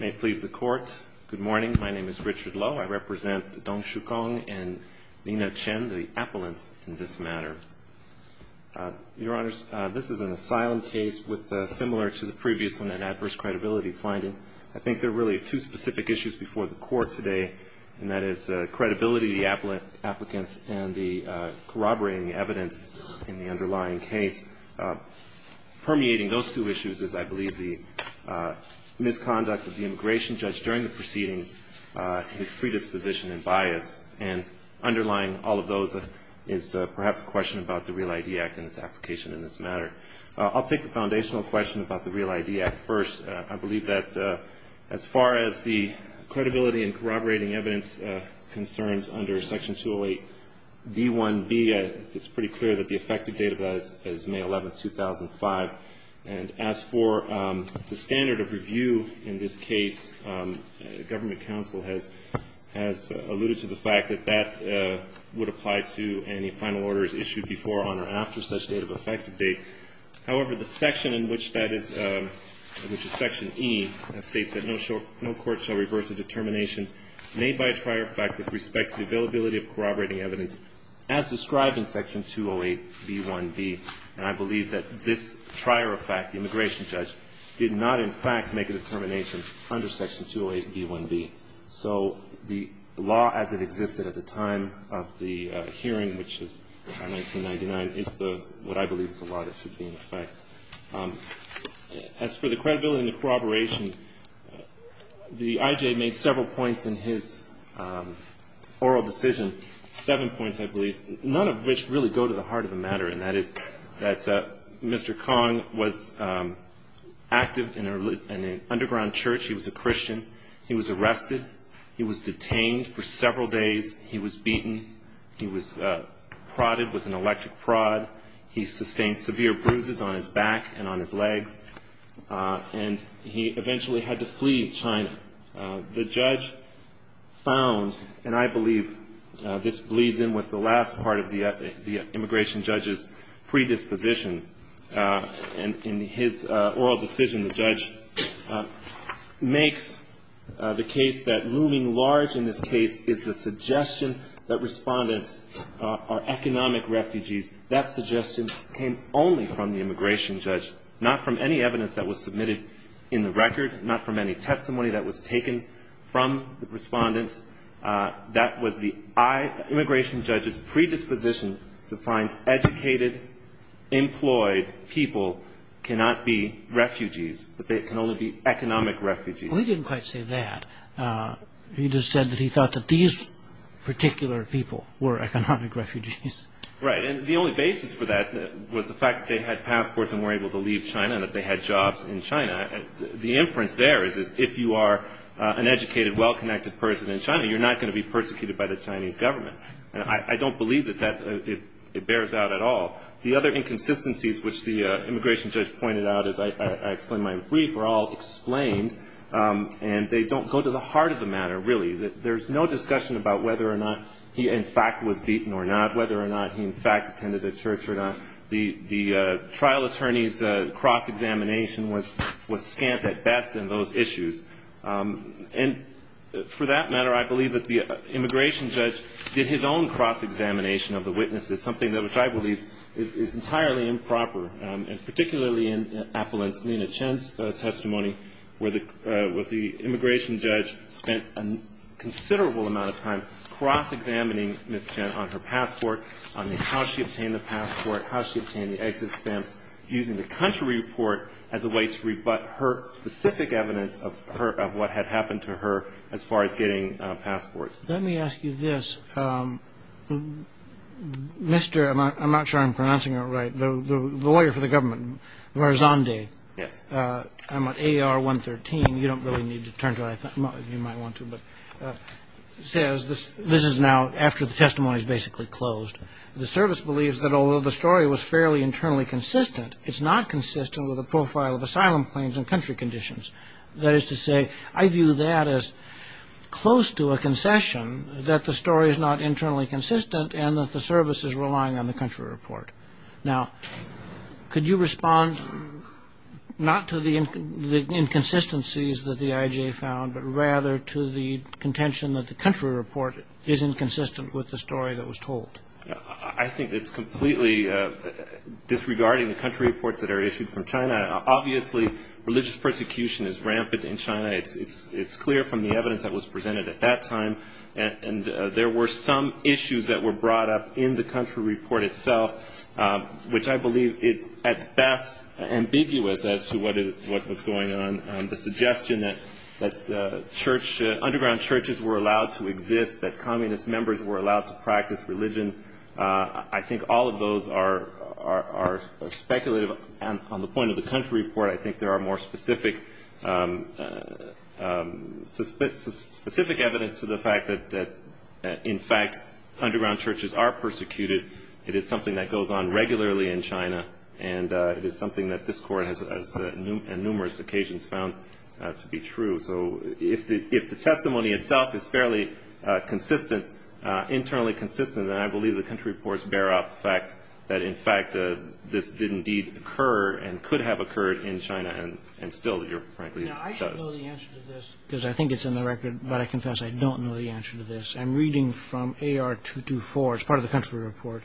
May it please the Court, good morning. My name is Richard Lowe. I represent the Dong Shu Kong and Nina Chen, the appellants in this matter. Your Honors, this is an asylum case with a similar to the previous one, an adverse credibility finding. I think there are really two specific issues before the Court today, and that is credibility, the applicants, and the corroborating evidence in the underlying case. And permeating those two issues is, I believe, the misconduct of the immigration judge during the proceedings, his predisposition and bias. And underlying all of those is perhaps a question about the REAL ID Act and its application in this matter. I'll take the foundational question about the REAL ID Act first. I believe that as far as the credibility and corroborating evidence concerns under Section 208b1b, it's pretty clear that the effective date of that is May 11th, 2005. And as for the standard of review in this case, Government counsel has alluded to the fact that that would apply to any final orders issued before, on, or after such date of effective date. However, the section in which that is, which is Section E, states that no court shall reverse a determination made by a prior fact with respect to the availability of corroborating evidence, as described in Section 208b1b. And I believe that this prior fact, the immigration judge, did not, in fact, make a determination under Section 208b1b. So the law as it existed at the time of the hearing, which is 1999, is the, what I believe is the law that should be in effect. As for the credibility and the corroboration, the I.J. made several points in his oral decision, seven points, I believe, none of which really go to the heart of the matter, and that is that Mr. Kong was active in an underground church. He was a Christian. He was arrested. He was detained for several days. He was beaten. He was prodded with an electric prod. He sustained severe bruises on his back and on his legs. And he eventually had to flee China. The judge found, and I believe this bleeds in with the last part of the immigration judge's predisposition. In his oral decision, the judge makes the case that looming large in this case is the suggestion that respondents are economic refugees. That suggestion came only from the immigration judge, not from any evidence that was submitted in the record, not from any testimony that was taken from the respondents. That was the immigration judge's predisposition to find educated, employed people cannot be refugees, that they can only be economic refugees. Well, he didn't quite say that. He just said that he thought that these particular people were economic refugees. Right. And the only basis for that was the fact that they had passports and were able to leave China and that they had jobs in China. The inference there is if you are an educated, well-connected person in China, you're not going to be persecuted by the Chinese government. And I don't believe that that bears out at all. The other inconsistencies, which the immigration judge pointed out, as I explained in my brief, were all explained. And they don't go to the heart of the matter, really. There's no discussion about whether or not he, in fact, was beaten or not, whether or not he, in fact, attended the church or not. The trial attorney's cross-examination was scant at best in those issues. And for that matter, I believe that the immigration judge did his own cross-examination of the witnesses, something that which I believe is entirely improper, and particularly in Appellant's Nina Chen's testimony, where the immigration judge spent a considerable amount of time cross-examining Ms. Chen on her passport, on how she obtained the passport, how she obtained the exit stamps, using the country report as a way to rebut her specific evidence of what had happened to her as far as getting passports. Let me ask you this. Mr. — I'm not sure I'm pronouncing it right — the lawyer for the government, Varzandeh. Yes. I'm at AR-113. You don't really need to turn to it. You might want to. It says — this is now after the testimony is basically closed — the service believes that although the story was fairly internally consistent, it's not consistent with the profile of asylum claims and country conditions. That is to say, I view that as close to a concession that the story is not internally consistent and that the service is relying on the country report. Now, could you respond not to the inconsistencies that the IJ found, but rather to the contention that the country report is inconsistent with the story that was told? I think it's completely disregarding the country reports that are issued from China. Obviously, religious persecution is rampant in China. It's clear from the evidence that was presented at that time. And there were some issues that were brought up in the country report itself, which I believe is at best ambiguous as to what is — what was going on. The suggestion that church — underground churches were allowed to exist, that communist members were allowed to practice religion. I think all of those are speculative. And on the point of the country report, I think there are more specific evidence to the fact that, in fact, underground churches are persecuted. It is something that goes on regularly in China, and it is something that this Court has on numerous occasions found to be true. So if the testimony itself is fairly consistent, internally consistent, then I believe the I think it's in the record, but I confess I don't know the answer to this. I'm reading from AR 224. It's part of the country report.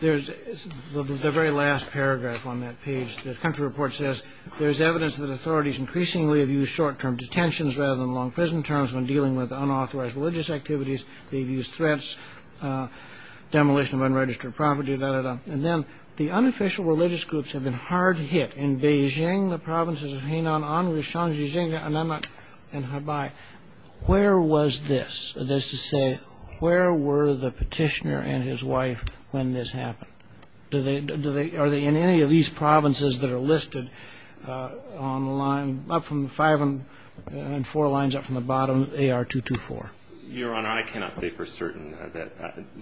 There's — the very last paragraph on that page. The country report says, there's evidence that authorities increasingly have used short-term detentions rather than long-prison terms when dealing with unauthorized religious activities. They've used threats, demolition of unregistered property, da-da-da. And then, the unofficial religious groups have been hard hit. In Beijing, the provinces of Hainan, Anhui, Shanxi, Xinjiang, Annanmen, and Hebei. Where was this? That is to say, where were the petitioner and his wife when this happened? Do they — are they in any of these provinces that are listed on the line — up from the five and four lines up from the bottom, AR 224? Your Honor, I cannot say for certain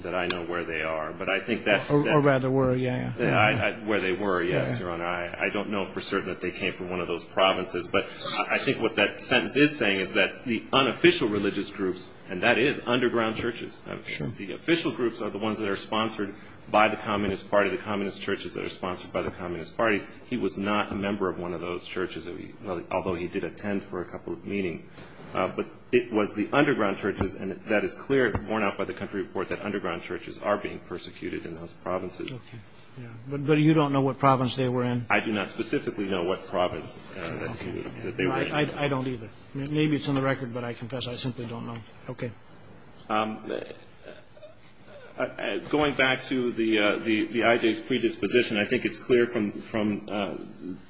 that I know where they are. But I think that — Or rather, where — yeah, yeah. Where they were, yes, Your Honor. I don't know for certain that they came from one of those provinces. But I think what that sentence is saying is that the unofficial religious groups — and that is underground churches. Sure. The official groups are the ones that are sponsored by the Communist Party, the Communist churches that are sponsored by the Communist Party. He was not a member of one of those churches, although he did attend for a couple of meetings. But it was the underground churches — and that is clear, worn out by the country report, that underground churches are being persecuted in those provinces. Okay. Yeah. But you don't know what province they were in? I do not specifically know what province that he was — that they were in. I don't either. Maybe it's on the record, but I confess I simply don't know. Okay. Going back to the — the IJ's predisposition, I think it's clear from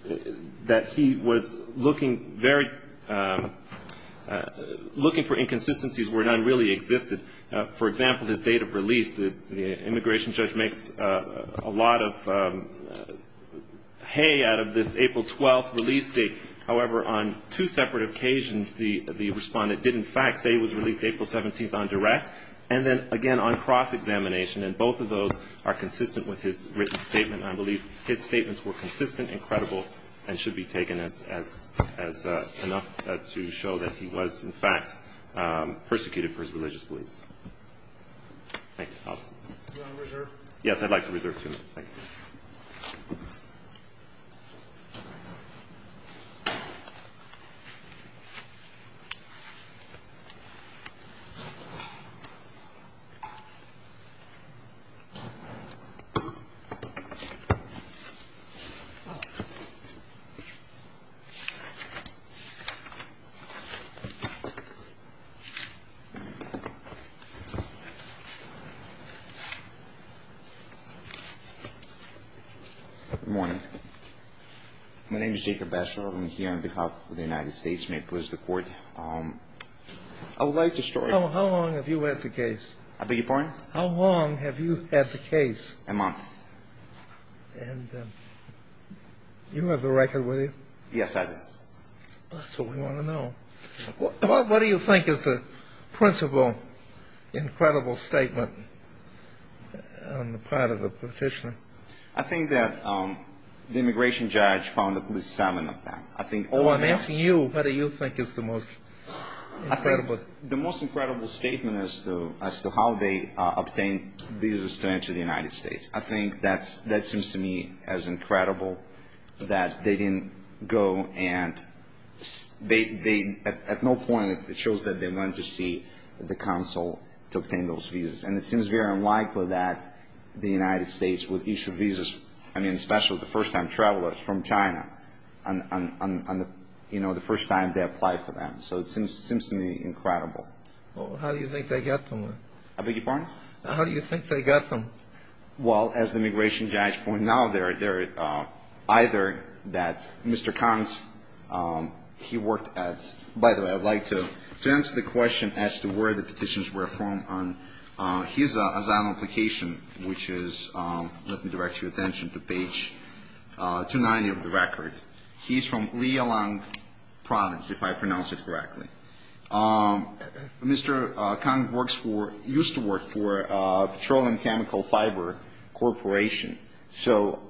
— that he was looking very — looking for inconsistencies where none really existed. For example, his date of release, the immigration judge makes a lot of hay out of this April 12th release date. However, on two separate occasions, the respondent did, in fact, say he was released April 17th on direct. And then, again, on cross-examination. And both of those are consistent with his written statement. And I believe his statements were consistent and credible and should be taken as enough to show that he was, in fact, persecuted for his religious beliefs. Thank you. Do you want to reserve? Yes, I'd like to reserve two minutes. Thank you. Good morning. My name is Jacob Bachelor. I'm here on behalf of the United States May it please the Court. I would like to start — How long have you had the case? I beg your pardon? How long have you had the case? A month. A month. And you have the record with you? Yes, I do. That's what we want to know. What do you think is the principal incredible statement on the part of the petitioner? I think that the immigration judge found at least seven of them. I think — Oh, I'm asking you. What do you think is the most incredible — The most incredible statement as to how they obtained visas to enter the United States. I think that seems to me as incredible that they didn't go and — at no point it shows that they went to see the consul to obtain those visas. And it seems very unlikely that the United States would issue visas, I mean, especially the first-time travelers from China, you know, the first time they apply for them. So it seems to me incredible. Well, how do you think they got them? I beg your pardon? How do you think they got them? Well, as the immigration judge pointed out, they're either that Mr. Kang's — he worked at — by the way, I'd like to answer the question as to where the petitions were from on his asylum application, which is — let me direct your attention to page 290 of the record. He's from Liaolang province, if I pronounce it correctly. Mr. Kang works for — used to work for Petroleum Chemical Fiber Corporation. So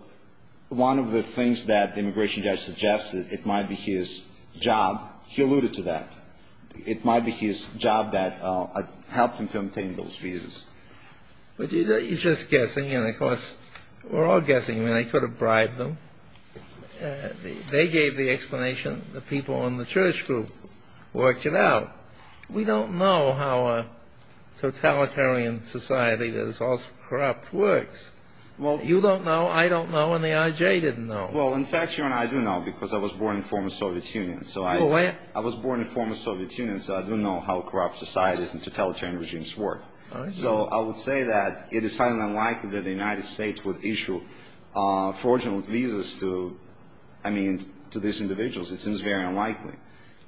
one of the things that the immigration judge suggested, it might be his job — he alluded to that. It might be his job that helped him to obtain those visas. But he's just guessing, and of course, we're all guessing. I mean, they could have bribed them. They gave the explanation. The people in the church group worked it out. We don't know how a totalitarian society that is also corrupt works. Well, you don't know, I don't know, and the IJ didn't know. Well, in fact, Your Honor, I do know, because I was born in former Soviet Union. So I — I was born in former Soviet Union, so I do know how corrupt societies and totalitarian regimes work. So I would say that it is highly unlikely that the United States would issue fraudulent visas to — I mean, to these individuals. It seems very unlikely.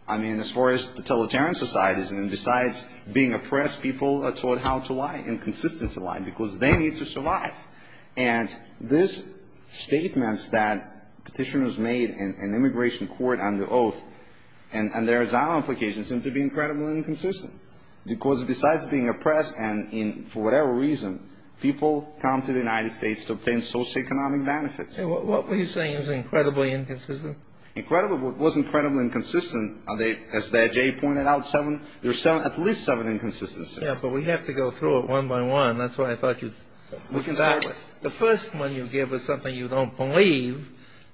I mean, as far as totalitarian societies, and besides being oppressed, people are taught how to lie, and consistently lie, because they need to survive. And these statements that petitioners made in immigration court under oath, and their asylum applications, seem to be incredibly inconsistent. Because besides being oppressed, and in — for whatever reason, people come to the United States to obtain socioeconomic benefits. And what were you saying is incredibly inconsistent? Incredibly — well, it was incredibly inconsistent. Are they — as the IJ pointed out, seven — there are seven — at least seven inconsistencies. Yeah, but we have to go through it one by one. That's why I thought you — We can start — The first one you give is something you don't believe,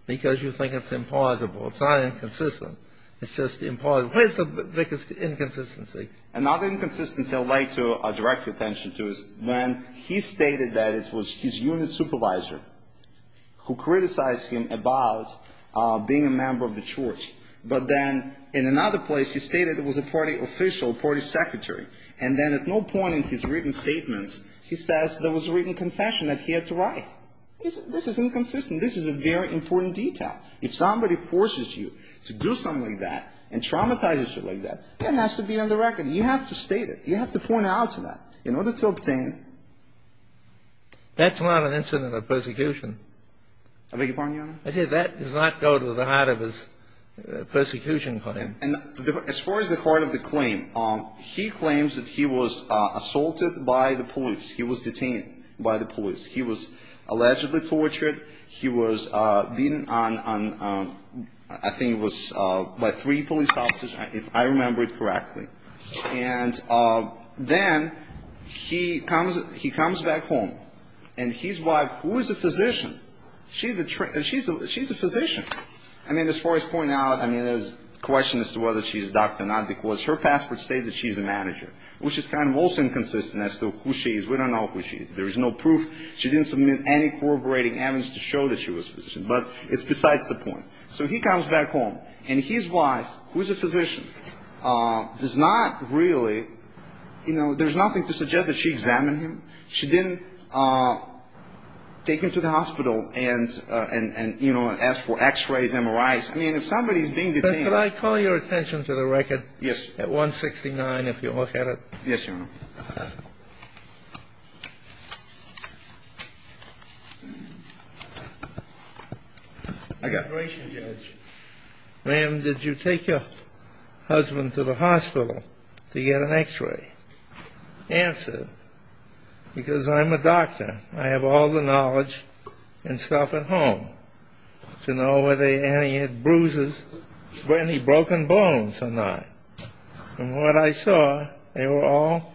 because you think it's implausible. It's not inconsistent. It's just implausible. Where's the biggest inconsistency? Another inconsistency I would like to direct your attention to is when he stated that it was his unit supervisor who criticized him about being a member of the church. But then, in another place, he stated it was a party official, party secretary. And then, at no point in his written statements, he says there was a written confession that he had to write. This is inconsistent. This is a very important detail. If somebody forces you to do something like that and traumatizes you like that, that has to be on the record. You have to state it. You have to point out to that in order to obtain — That's not an incident of persecution. I beg your pardon, Your Honor? I said that does not go to the heart of his persecution claim. And as far as the heart of the claim, he claims that he was assaulted by the police. He was detained by the police. He was allegedly tortured. He was beaten on — I think it was by three police officers, if I remember it correctly. And then, he comes back home, and his wife — who is a physician? She's a physician. I mean, as far as pointing out, I mean, there's a question as to whether she's a doctor or not, because her passport states that she's a manager, which is kind of also inconsistent as to who she is. We don't know who she is. There is no proof. She didn't submit any corroborating evidence to show that she was a physician. But it's besides the point. So he comes back home, and his wife, who is a physician, does not really — you know, there's nothing to suggest that she examined him. She didn't take him to the hospital and, you know, ask for X-rays, MRIs. I mean, if somebody is being detained — But could I call your attention to the record at 169, if you look at it? Yes, Your Honor. I got a ration judge. Ma'am, did you take your husband to the hospital to get an X-ray? Answered, because I'm a doctor. I have all the knowledge and stuff at home to know whether he had bruises, any broken bones or not. And what I saw, they were all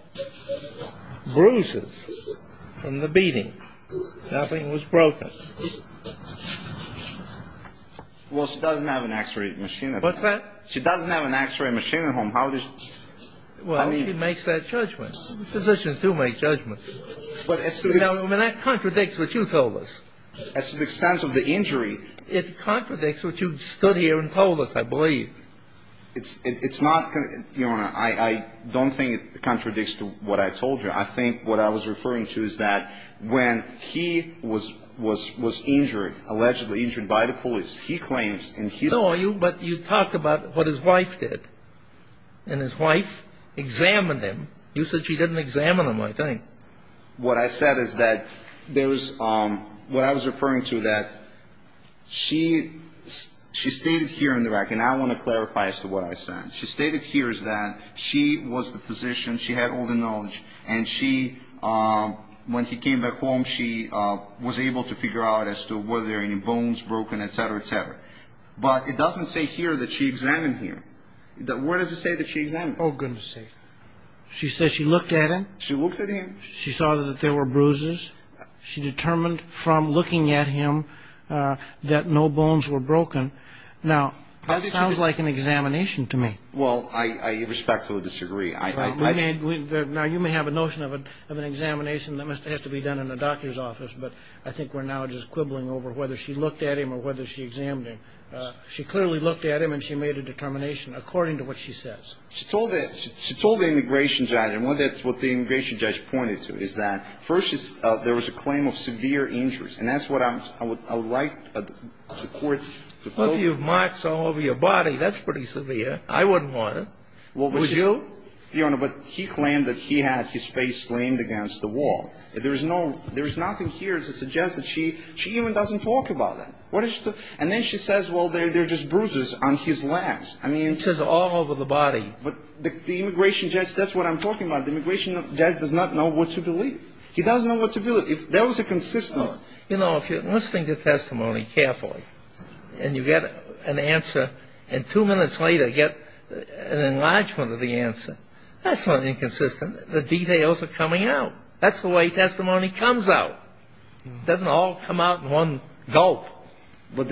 bruises from the beating. Nothing was broken. Well, she doesn't have an X-ray machine at home. What's that? She doesn't have an X-ray machine at home. How does — Well, she makes that judgment. Physicians do make judgments. But as to the — I mean, that contradicts what you told us. As to the extent of the injury — It contradicts what you stood here and told us, I believe. It's not — Your Honor, I don't think it contradicts what I told you. I think what I was referring to is that when he was injured, allegedly injured by the police, he claims in his — No, but you talked about what his wife did. And his wife examined him. You said she didn't examine him, I think. What I said is that there was — What I was referring to that she — She stated here in the record, and I want to clarify as to what I said. She stated here is that she was the physician. She had all the knowledge. And she — When he came back home, she was able to figure out as to whether there were any bones broken, et cetera, et cetera. But it doesn't say here that she examined him. Where does it say that she examined him? Oh, goodness sake. She says she looked at him? She looked at him? She saw that there were bruises. She determined from looking at him that no bones were broken. Now, that sounds like an examination to me. Well, I respectfully disagree. I — Now, you may have a notion of an examination that has to be done in a doctor's office, but I think we're now just quibbling over whether she looked at him or whether she examined him. She clearly looked at him, and she made a determination according to what she says. She told the immigration judge, and that's what the immigration judge pointed to, is that first there was a claim of severe injuries. And that's what I would like the Court to vote. Well, if you have marks all over your body, that's pretty severe. I wouldn't want it. Would you? Your Honor, but he claimed that he had his face slammed against the wall. There is nothing here to suggest that she even doesn't talk about that. And then she says, well, they're just bruises on his legs. I mean — She says all over the body. But the immigration judge, that's what I'm talking about. The immigration judge does not know what to believe. He doesn't know what to believe. If there was a consistent — Your Honor, you know, if you're listening to testimony carefully, and you get an answer, and two minutes later get an enlargement of the answer, that's not inconsistent. The details are coming out. That's the way testimony comes out. It doesn't all come out in one gulp. But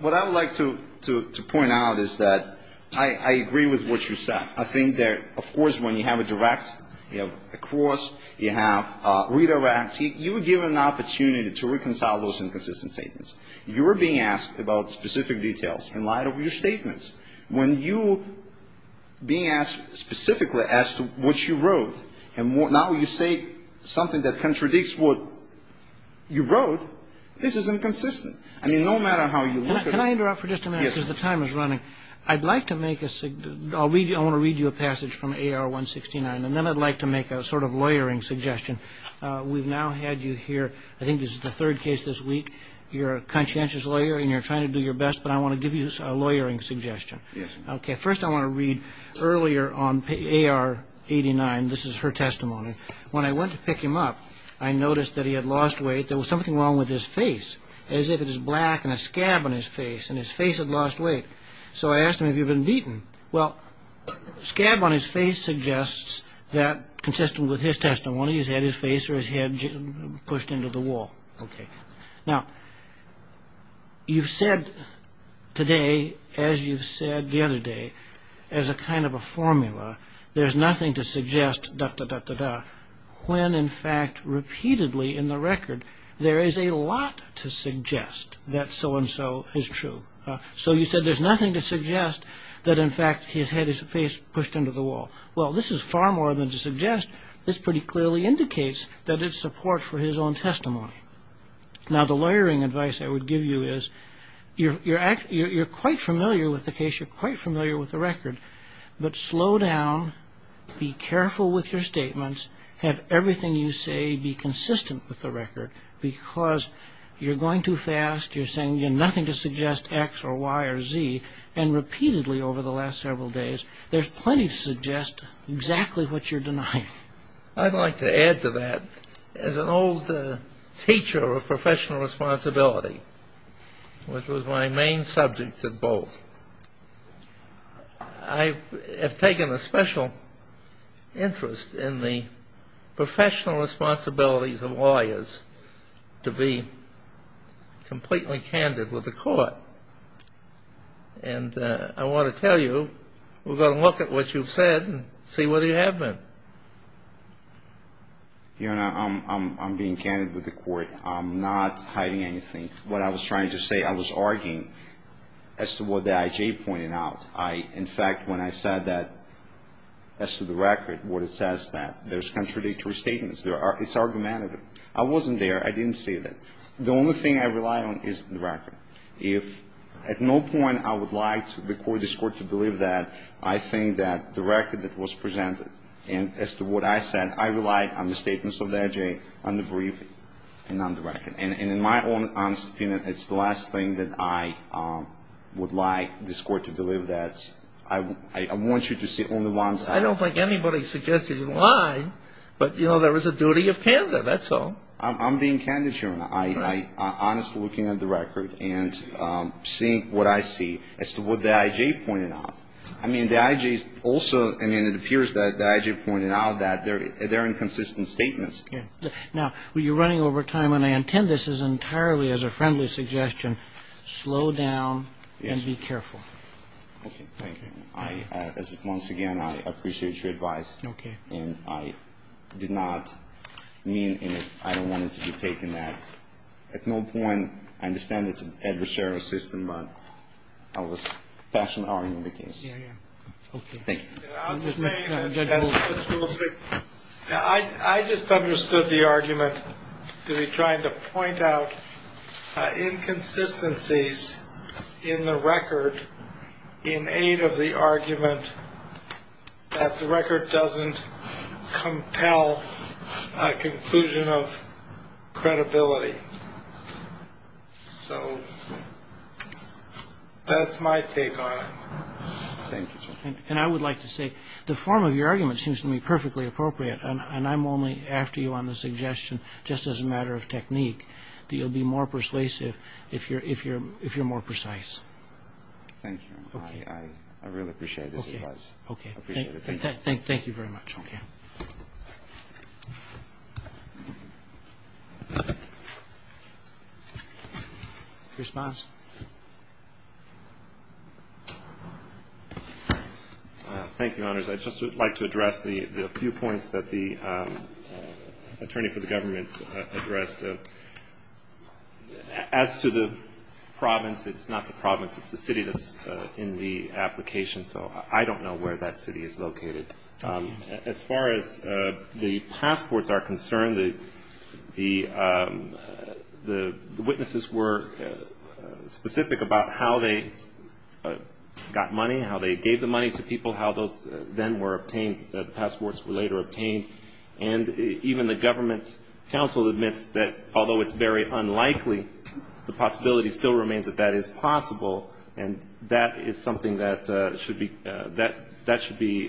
what I would like to point out is that I agree with what you said. I think that, of course, when you have a direct, you have a cross, you have a redirect, you were given an opportunity to reconcile those inconsistent statements. You were being asked about specific details in light of your statements. When you being asked specifically as to what you wrote, and now you say something that contradicts what you wrote, this is inconsistent. I mean, no matter how you look at it. Can I interrupt for just a minute? Yes. Because the time is running. I'd like to make a — I want to read you a passage from AR-169, and then I'd like to make a sort of lawyering suggestion. We've now had you here. I think this is the third case this week. You're a conscientious lawyer, and you're trying to do your best, but I want to give you a lawyering suggestion. Yes. Okay. First, I want to read earlier on AR-89. This is her testimony. When I went to pick him up, I noticed that he had lost weight. There was something wrong with his face, as if it was black and a scab on his face, and his face had lost weight. So I asked him, Have you been beaten? Well, scab on his face suggests that, consistent with his testimony, he's had his face or his head pushed into the wall. Okay. Now, you've said today, as you've said the other day, as a kind of a formula, there's nothing to suggest, da-da-da-da-da, when, in fact, repeatedly in the record, there is a lot to suggest that so-and-so is true. So you said there's nothing to suggest that, in fact, he's had his face pushed into the wall. Well, this is far more than to suggest. This pretty clearly indicates that it's support for his own testimony. Now, the lawyering advice I would give you is, you're quite familiar with the case. You're quite familiar with the record. But slow down. Be careful with your statements. Have everything you say be consistent with the record, because you're going too fast. You're saying nothing to suggest X or Y or Z. And repeatedly over the last several days, there's plenty to suggest exactly what you're denying. I'd like to add to that. As an old teacher of professional responsibility, which was my main subject at both, I have taken a special interest in the professional responsibilities of lawyers to be completely candid with the court. And I want to tell you, we're going to look at what you've said and see whether you have been. Your Honor, I'm being candid with the court. I'm not hiding anything. What I was trying to say, I was arguing as to what the I.J. pointed out. In fact, when I said that as to the record, what it says is that there's contradictory statements. It's argumentative. I wasn't there. I didn't say that. The only thing I rely on is the record. If at no point I would like the court, this Court, to believe that, I think that the record that was presented and as to what I said, I rely on the statements of the I.J., on the brief, and on the record. And in my own honest opinion, it's the last thing that I would like this Court to believe that. I want you to see only one side. I don't think anybody suggests that you lie, but, you know, there is a duty of candor, that's all. I'm being candid, Your Honor. I'm honestly looking at the record and seeing what I see as to what the I.J. pointed out. I mean, the I.J. is also, I mean, it appears that the I.J. pointed out that there are inconsistent statements. Now, you're running over time, and I intend this as entirely as a friendly suggestion, slow down and be careful. Yes. Okay. Thank you. Once again, I appreciate your advice. Okay. And I did not mean and I don't want it to be taken that at no point, I understand it's an adversarial system, but I was passionately arguing the case. Yeah, yeah. Okay. Thank you. I just understood the argument to be trying to point out inconsistencies in the record in aid of the argument that the record doesn't compel a conclusion of credibility. So that's my take on it. Thank you, Your Honor. And I would like to say the form of your argument seems to me perfectly appropriate, and I'm only after you on the suggestion just as a matter of technique that you'll be more persuasive if you're more precise. Thank you, Your Honor. Okay. I really appreciate this advice. Okay. Okay. Thank you very much. Okay. Thank you. Response? Thank you, Your Honors. I'd just like to address the few points that the attorney for the government addressed. As to the province, it's not the province, it's the city that's in the application, so I don't know where that city is located. As far as the passports are concerned, the witnesses were specific about how they got money, how they gave the money to people, how those then were obtained, the passports were later obtained. And even the government counsel admits that although it's very unlikely, the possibility still remains that that is possible, and that is something that should be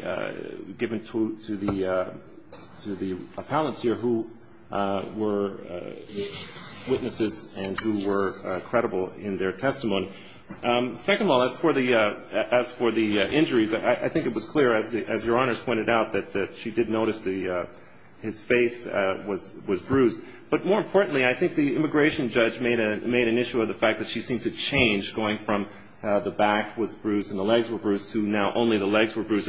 given to the appellants here who were witnesses and who were credible in their testimony. Second of all, as for the injuries, I think it was clear, as Your Honors pointed out, that she did notice his face was bruised. But more importantly, I think the immigration judge made an issue of the fact that she seemed to change going from the back was bruised and the legs were bruised to now only the legs were bruised.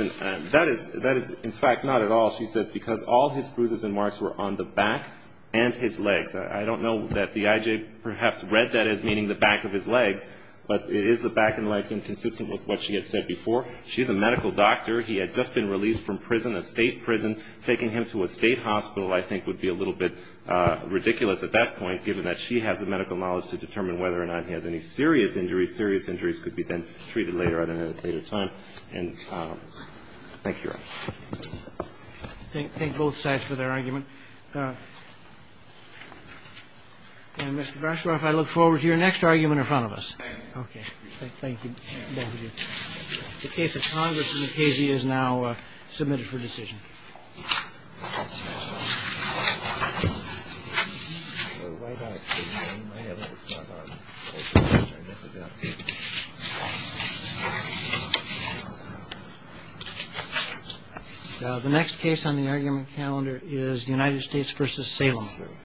That is, in fact, not at all, she says, because all his bruises and marks were on the back and his legs. I don't know that the IJ perhaps read that as meaning the back of his legs, but it is the back and legs inconsistent with what she had said before. She's a medical doctor. He had just been released from prison, a state prison. Taking him to a state hospital, I think, would be a little bit ridiculous at that point, given that she has the medical knowledge to determine whether or not he has any serious injuries. Serious injuries could be then treated later on at a later time. And thank you, Your Honor. Roberts. Thank both sides for their argument. And, Mr. Grashoff, I look forward to your next argument in front of us. Okay. Thank you. The case of Congress v. Casey is now submitted for decision. Thank you. The next case on the argument calendar is United States v. Salem.